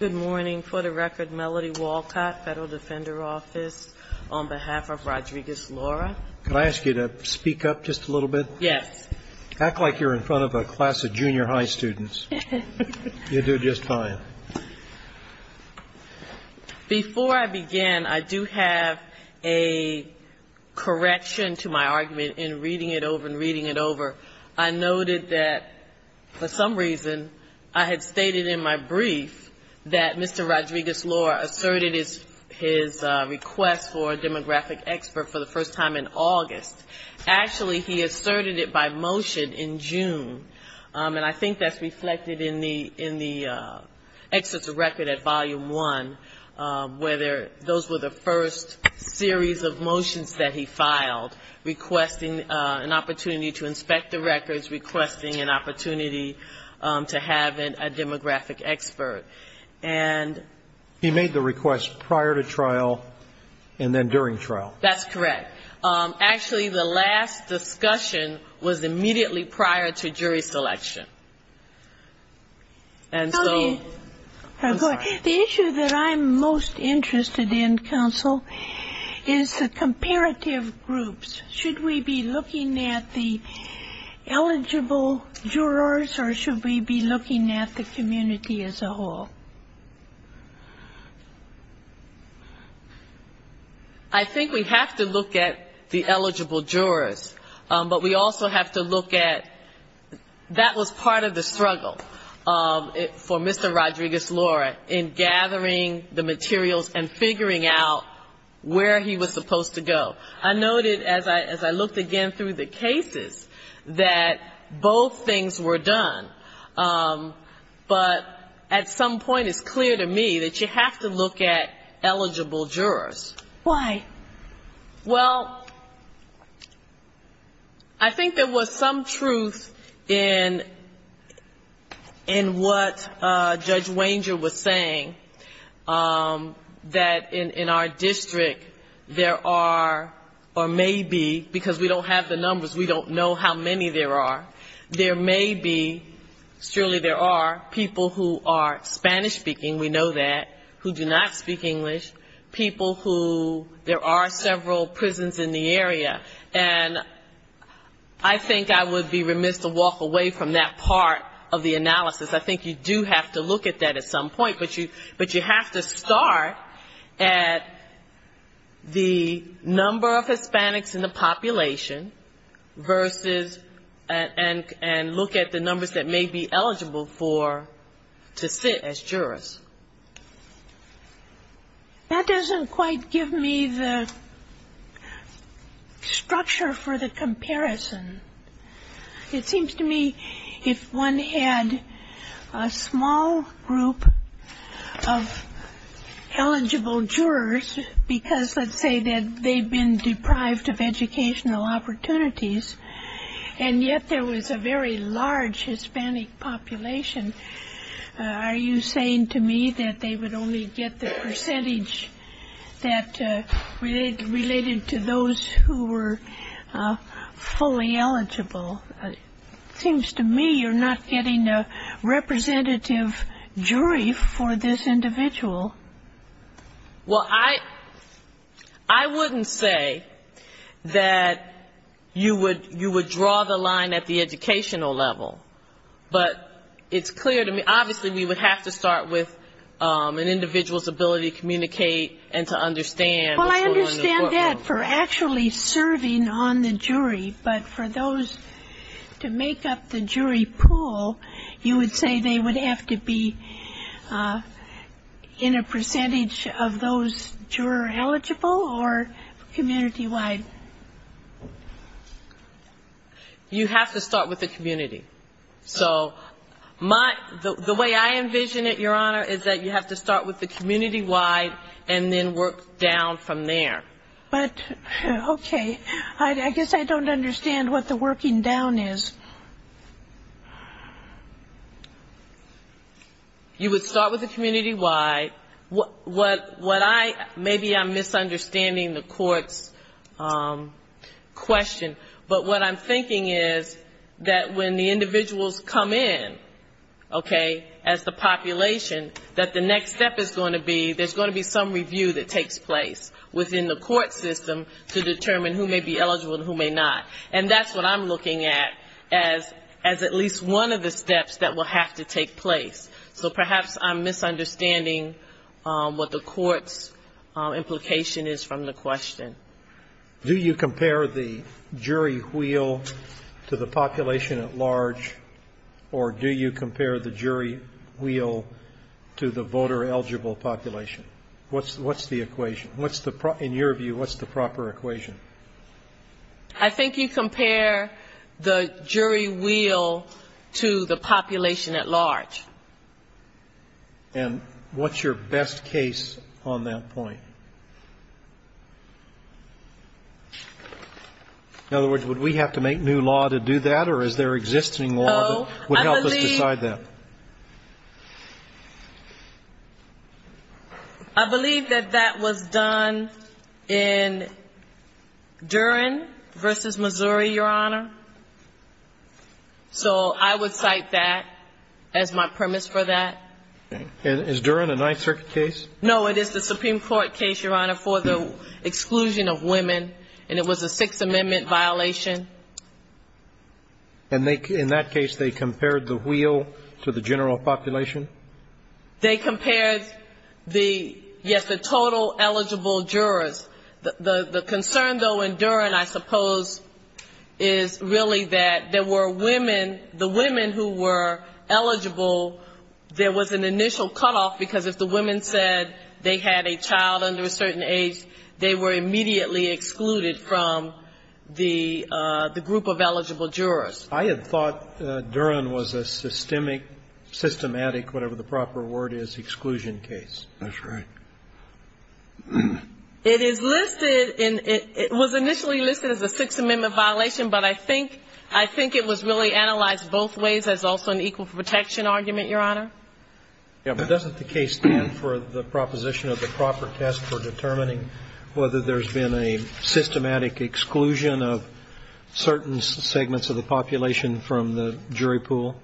Good morning. For the record, Melody Walcott, Federal Defender Office, on behalf of Rodriguez-Lara. Can I ask you to speak up just a little bit? Yes. Act like you're in front of a class of junior high students. You'll do just fine. Before I begin, I do have a correction to my argument in reading it over and reading it over. I noted that, for some reason, I had stated in my brief that Mr. Rodriguez-Lara asserted his request for a demographic expert for the first time in August. Actually, he asserted it by motion in June, and I think that's reflected in the Excerpts of Record at Volume 1, whether those were the first series of motions that he filed, requesting an opportunity to inspect the records, requesting an opportunity to have a demographic expert. And he made the request prior to trial and then during trial. That's correct. Actually, the last discussion was immediately prior to jury selection. I'm sorry. The issue that I'm most interested in, counsel, is the comparative groups. Should we be looking at the eligible jurors or should we be looking at the community as a whole? I think we have to look at the eligible jurors, but we also have to look at that was part of the discussion. That was part of the struggle for Mr. Rodriguez-Lara in gathering the materials and figuring out where he was supposed to go. I noted, as I looked again through the cases, that both things were done, but at some point it's clear to me that you have to look at eligible jurors. Why? Well, I think there was some truth in what Judge Wanger was saying, that in our district, there are or may be, because we don't have the numbers, we don't know how many there are, there may be, surely there are, people who are Spanish-speaking, we know that, who do not speak English, people who, there are several prisons in the area. And I think I would be remiss to walk away from that part of the analysis. I think you do have to look at that at some point, but you have to start at the number of Hispanics in the population versus, and look at the numbers that may be eligible for, to sit as jurors. That doesn't quite give me the structure for the comparison. It seems to me if one had a small group of eligible jurors, because let's say that they've been deprived of educational opportunities, and yet there was a very large Hispanic population, are you saying to me that they would only get the percentage that related to those who were fully eligible? It seems to me you're not getting a representative jury for this individual. Well, I wouldn't say that you would draw the line at the educational level, but it's clear to me, obviously we would have to start with an individual's ability to communicate and to understand what's going on in the courtroom. Well, I understand that for actually serving on the jury, but for those to make up the jury pool, you would say they would have to be in a percentage of those juror-eligible or community-wide? You have to start with the community. So my, the way I envision it, Your Honor, is that you have to start with the community. You have to start with the community-wide and then work down from there. But, okay. I guess I don't understand what the working down is. You would start with the community-wide. What I, maybe I'm misunderstanding the court's question, but what I'm thinking is that when the jury is going to be, there's going to be some review that takes place within the court system to determine who may be eligible and who may not. And that's what I'm looking at as at least one of the steps that will have to take place. So perhaps I'm misunderstanding what the court's implication is from the question. Do you compare the jury wheel to the population at large, or do you compare the jury wheel to the voter-eligible population? What's the equation? In your view, what's the proper equation? I think you compare the jury wheel to the population at large. And what's your best case on that point? In other words, would we have to make new law to do that, or is there existing law that would help us decide that? I believe that that was done in Durham versus Missouri, Your Honor. So I would cite that as my premise for that. Is Durham a Ninth Circuit case? No, it is the Supreme Court case, Your Honor, for the exclusion of women, and it was a Sixth Amendment violation. And in that case, they compared the wheel to the general population? They compared the, yes, the total eligible jurors. The concern, though, in Durham, I suppose, is really that there were women, the women who were eligible, there was an initial cutoff, because if the women said they had a child under a certain age, they were immediately excluded from the group of eligible jurors. I had thought Durham was a systemic, systematic, whatever the proper word is, exclusion case. That's right. It is listed, it was initially listed as a Sixth Amendment violation, but I think it was really analyzed both ways. That's also an equal protection argument, Your Honor. Yes, but doesn't the case stand for the proposition of the proper test for determining whether there's been a systematic exclusion of certain segments of the population from the jury pool?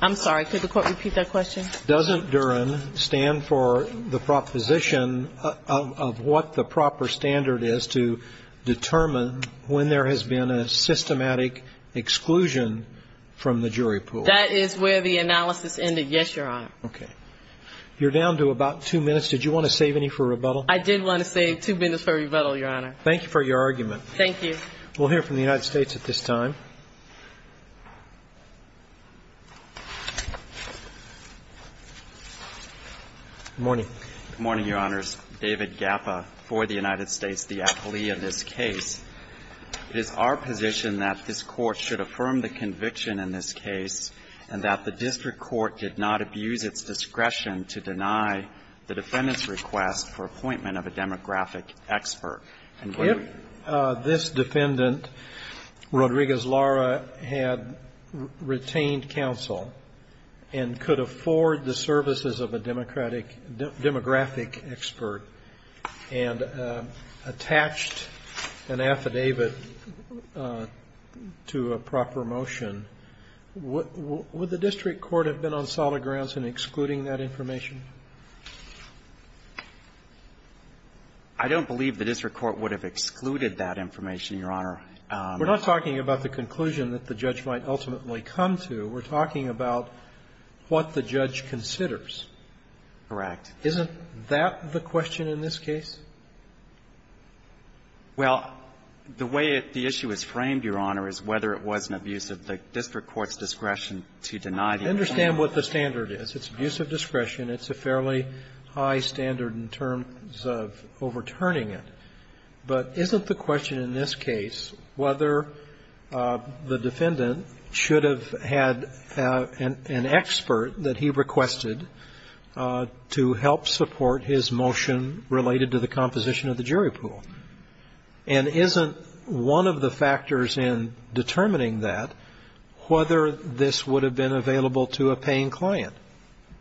I'm sorry, could the Court repeat that question? Doesn't Durham stand for the proposition of what the proper standard is to determine when there has been a systematic exclusion from the jury pool? That is where the analysis ended, yes, Your Honor. Okay. You're down to about two minutes. Did you want to save any for rebuttal? I did want to save two minutes for rebuttal, Your Honor. Thank you for your argument. Thank you. We'll hear from the United States at this time. Good morning. Good morning, Your Honors. David Gappa for the United States, the affilee in this case. It is our position that this Court should affirm the conviction in this case and that the district court did not abuse its discretion to deny the defendant's request for appointment of a demographic expert. If this defendant, Rodriguez-Lara, had retained counsel and could afford the services of a demographic expert and attached an affidavit to a proper motion, would the district court have been on solid grounds in excluding that information? I don't believe the district court would have excluded that information, Your Honor. We're not talking about the conclusion that the judge might ultimately come to. We're talking about what the judge considers. Correct. Isn't that the question in this case? Well, the way the issue is framed, Your Honor, is whether it was an abuse of discretion by the district court's discretion to deny the defendant's request. I understand what the standard is. It's abuse of discretion. It's a fairly high standard in terms of overturning it. But isn't the question in this case whether the defendant should have had an expert that he requested to help support his motion related to the composition of the jury pool? And isn't one of the factors in determining that whether this would have been available to a paying client?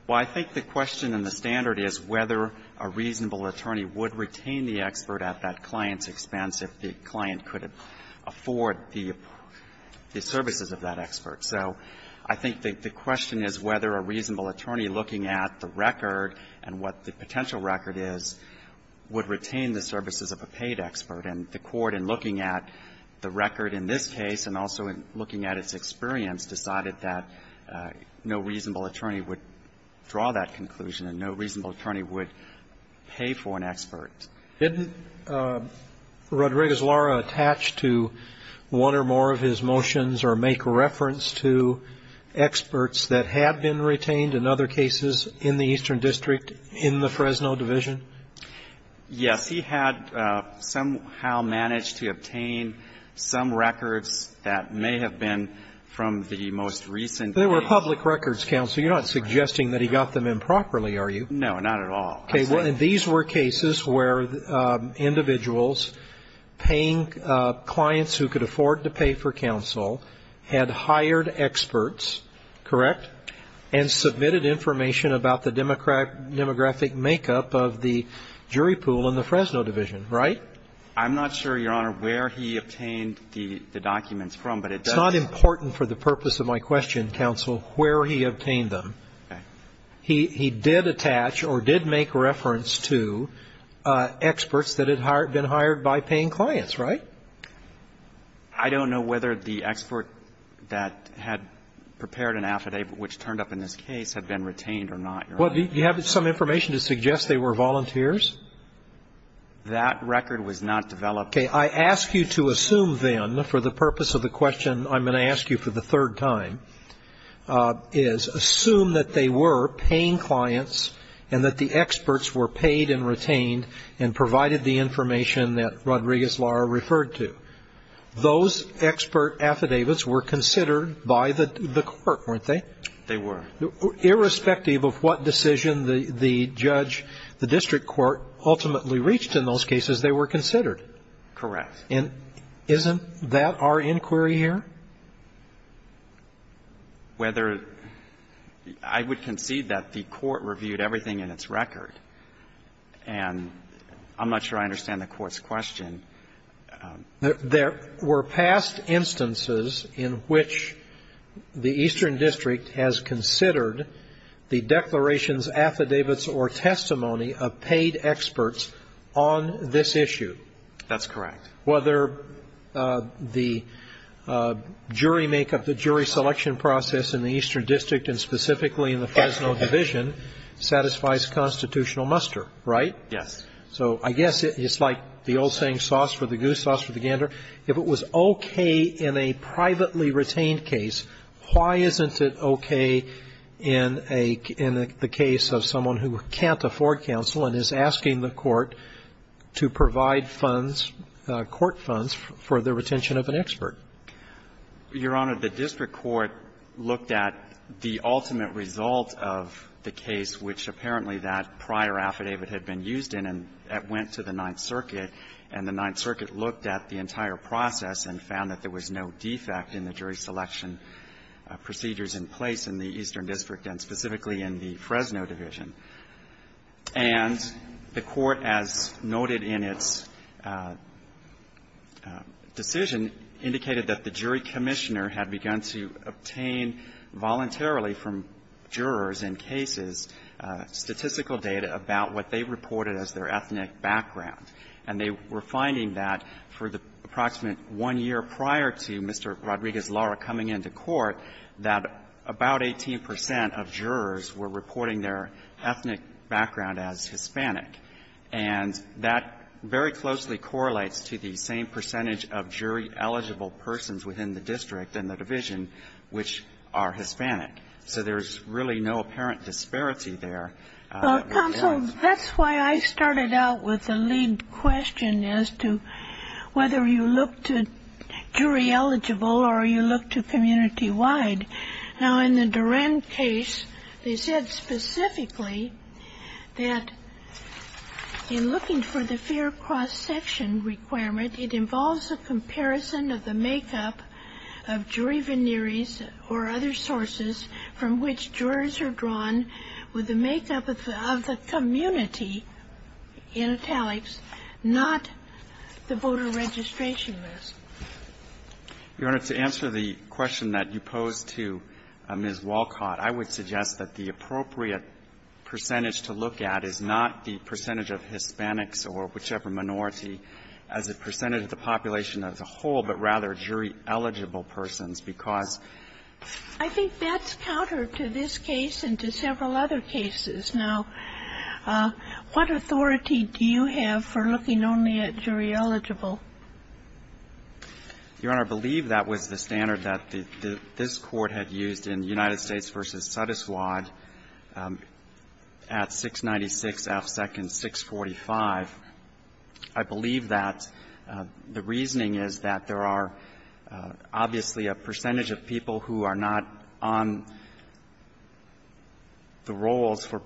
Well, I think the question in the standard is whether a reasonable attorney would retain the expert at that client's expense if the client could afford the services of that expert. So I think the question is whether a reasonable attorney looking at the record and what the potential record is would retain the services of a paid expert. And the Court, in looking at the record in this case and also in looking at its experience, decided that no reasonable attorney would draw that conclusion and no reasonable attorney would pay for an expert. Didn't Rodriguez-Lara attach to one or more of his motions or make reference to experts that had been retained in other cases in the Eastern District in the Fresno Division? Yes. He had somehow managed to obtain some records that may have been from the most recent case. They were public records, counsel. You're not suggesting that he got them improperly, are you? No, not at all. Okay. Well, these were cases where individuals paying clients who could afford to pay for experts, correct, and submitted information about the demographic makeup of the jury pool in the Fresno Division, right? I'm not sure, Your Honor, where he obtained the documents from, but it does ---- It's not important for the purpose of my question, counsel, where he obtained them. Okay. He did attach or did make reference to experts that had been hired by paying clients, right? I don't know whether the expert that had prepared an affidavit, which turned up in this case, had been retained or not, Your Honor. Well, do you have some information to suggest they were volunteers? That record was not developed. Okay. I ask you to assume, then, for the purpose of the question I'm going to ask you for the third time, is assume that they were paying clients and that the experts were paid and retained and provided the information that Rodriguez-Lara referred to. Those expert affidavits were considered by the court, weren't they? They were. Irrespective of what decision the judge, the district court, ultimately reached in those cases, they were considered. Correct. And isn't that our inquiry here? Whether I would concede that the court reviewed everything in its record, and I'm not sure I understand the court's question. There were past instances in which the Eastern District has considered the declarations, affidavits, or testimony of paid experts on this issue. That's correct. Whether the jury makeup, the jury selection process in the Eastern District, and specifically in the Fresno Division, satisfies constitutional muster, right? Yes. So I guess it's like the old saying, sauce for the goose, sauce for the gander. If it was okay in a privately retained case, why isn't it okay in the case of someone who can't afford counsel and is asking the court to provide funds, court funds, for the retention of an expert? Your Honor, the district court looked at the ultimate result of the case, which apparently that prior affidavit had been used in, and that went to the Ninth Circuit. And the Ninth Circuit looked at the entire process and found that there was no defect in the jury selection procedures in place in the Eastern District and specifically in the Fresno Division. And the Court, as noted in its decision, indicated that the jury commissioner had begun to obtain voluntarily from jurors in cases statistical data about what they reported as their ethnic background. And they were finding that for the approximate one year prior to Mr. Rodriguez's coming into court, that about 18 percent of jurors were reporting their ethnic background as Hispanic. And that very closely correlates to the same percentage of jury-eligible persons within the district and the division which are Hispanic. So there's really no apparent disparity there. Counsel, that's why I started out with the lead question as to whether you look to jury eligible or you look to community-wide. Now, in the Duren case, they said specifically that in looking for the fair cross-section requirement, it involves a comparison of the makeup of jury veneers or other sources from which jurors are drawn with the makeup of the community in italics, not the voter registration list. To answer the question that you posed to Ms. Walcott, I would suggest that the appropriate percentage to look at is not the percentage of Hispanics or whichever minority as a percentage of the population as a whole, but rather jury-eligible persons, because I think that's counter to this case and to several other cases. Now, what authority do you have for looking only at jury-eligible? Your Honor, I believe that was the standard that this Court had used in United States v. Sotoswad at 696 F. Second 645. I believe that the reasoning is that there are obviously a percentage of people who are not on the rolls for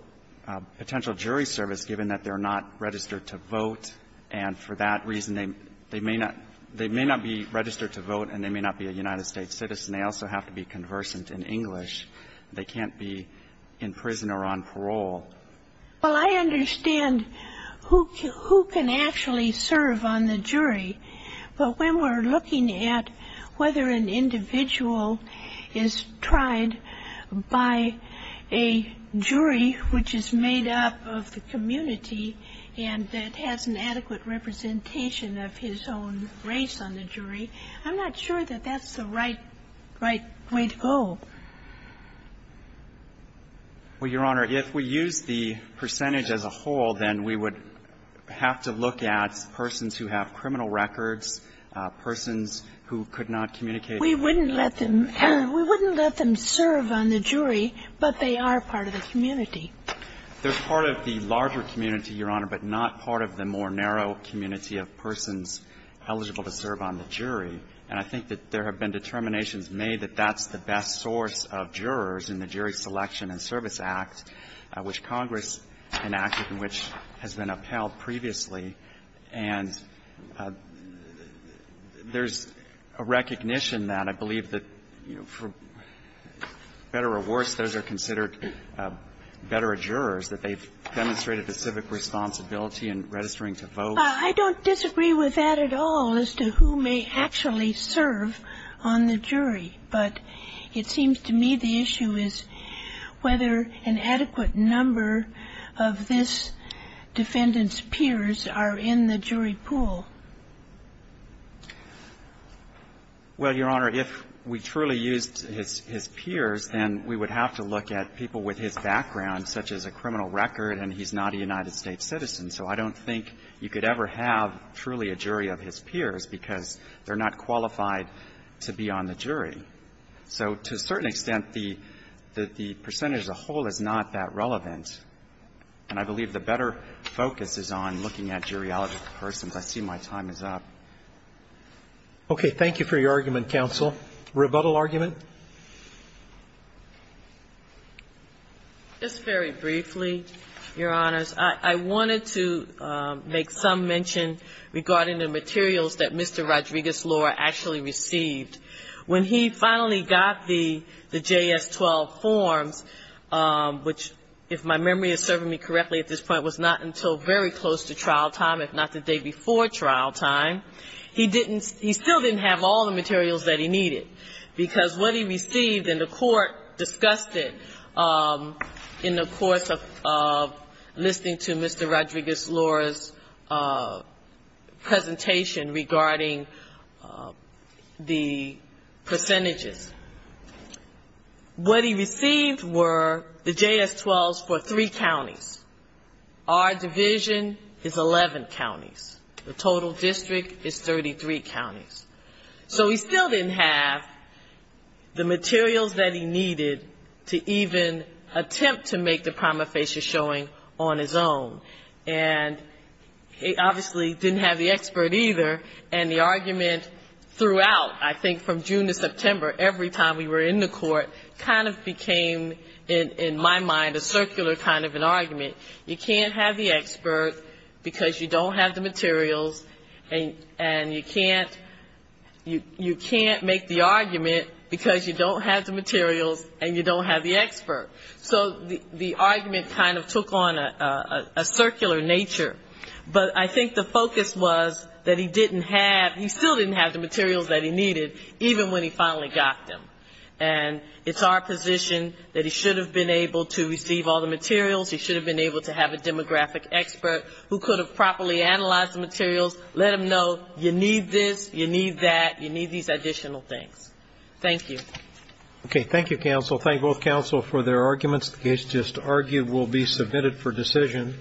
potential jury service given that they're not registered to vote, and for that reason, they may not be registered to vote and they may not be a United States citizen. They also have to be conversant in English. They can't be in prison or on parole. Well, I understand who can actually serve on the jury, but when we're looking at whether an individual is tried by a jury which is made up of the community and that has an adequate representation of his own race on the jury, I'm not sure that that's the right, right way to go. Well, Your Honor, if we use the percentage as a whole, then we would have to look at persons who have criminal records, persons who could not communicate. We wouldn't let them. We wouldn't let them serve on the jury, but they are part of the community. They're part of the larger community, Your Honor, but not part of the more narrow community of persons eligible to serve on the jury. And I think that there have been determinations made that that's the best source of jurors in the Jury Selection and Service Act, which Congress enacted and which has been upheld previously, and there's a recognition that I believe that, you know, for better or worse, those are considered better jurors, that they've demonstrated a civic responsibility in registering to vote. I don't disagree with that at all as to who may actually serve on the jury, but it is a question of whether the defendant's peers are in the jury pool. Well, Your Honor, if we truly used his peers, then we would have to look at people with his background, such as a criminal record, and he's not a United States citizen. So I don't think you could ever have truly a jury of his peers because they're not qualified to be on the jury. So to a certain extent, the percentage as a whole is not that relevant. And I believe the better focus is on looking at juriological persons. I see my time is up. Okay. Thank you for your argument, counsel. Rebuttal argument? Just very briefly, Your Honors. I wanted to make some mention regarding the materials that Mr. Rodriguez-Lore actually received. When he finally got the JS-12 forms, which, if my memory is serving me correctly at this point, was not until very close to trial time, if not the day before trial time, he still didn't have all the materials that he needed, because what he received and the court discussed it in the course of listening to Mr. Rodriguez-Lore's presentation regarding the percentages. What he received were the JS-12s for three counties. Our division is 11 counties. The total district is 33 counties. So he still didn't have the materials that he needed to even attempt to make the prima facie showing on his own. And he obviously didn't have the expert either, and the argument throughout, I think from June to September, every time we were in the court, kind of became in my mind a circular kind of an argument. You can't have the expert because you don't have the materials, and you can't make the argument because you don't have the materials and you don't have the expert. So the argument kind of took on a circular nature. But I think the focus was that he didn't have, he still didn't have the materials that he needed, even when he finally got them. And it's our position that he should have been able to receive all the materials, he should have been able to have a demographic expert who could have properly analyzed the materials, let him know you need this, you need that, you need these additional things. Thank you. Okay, thank you, counsel. Thank both counsel for their arguments. The case just argued will be submitted for decision.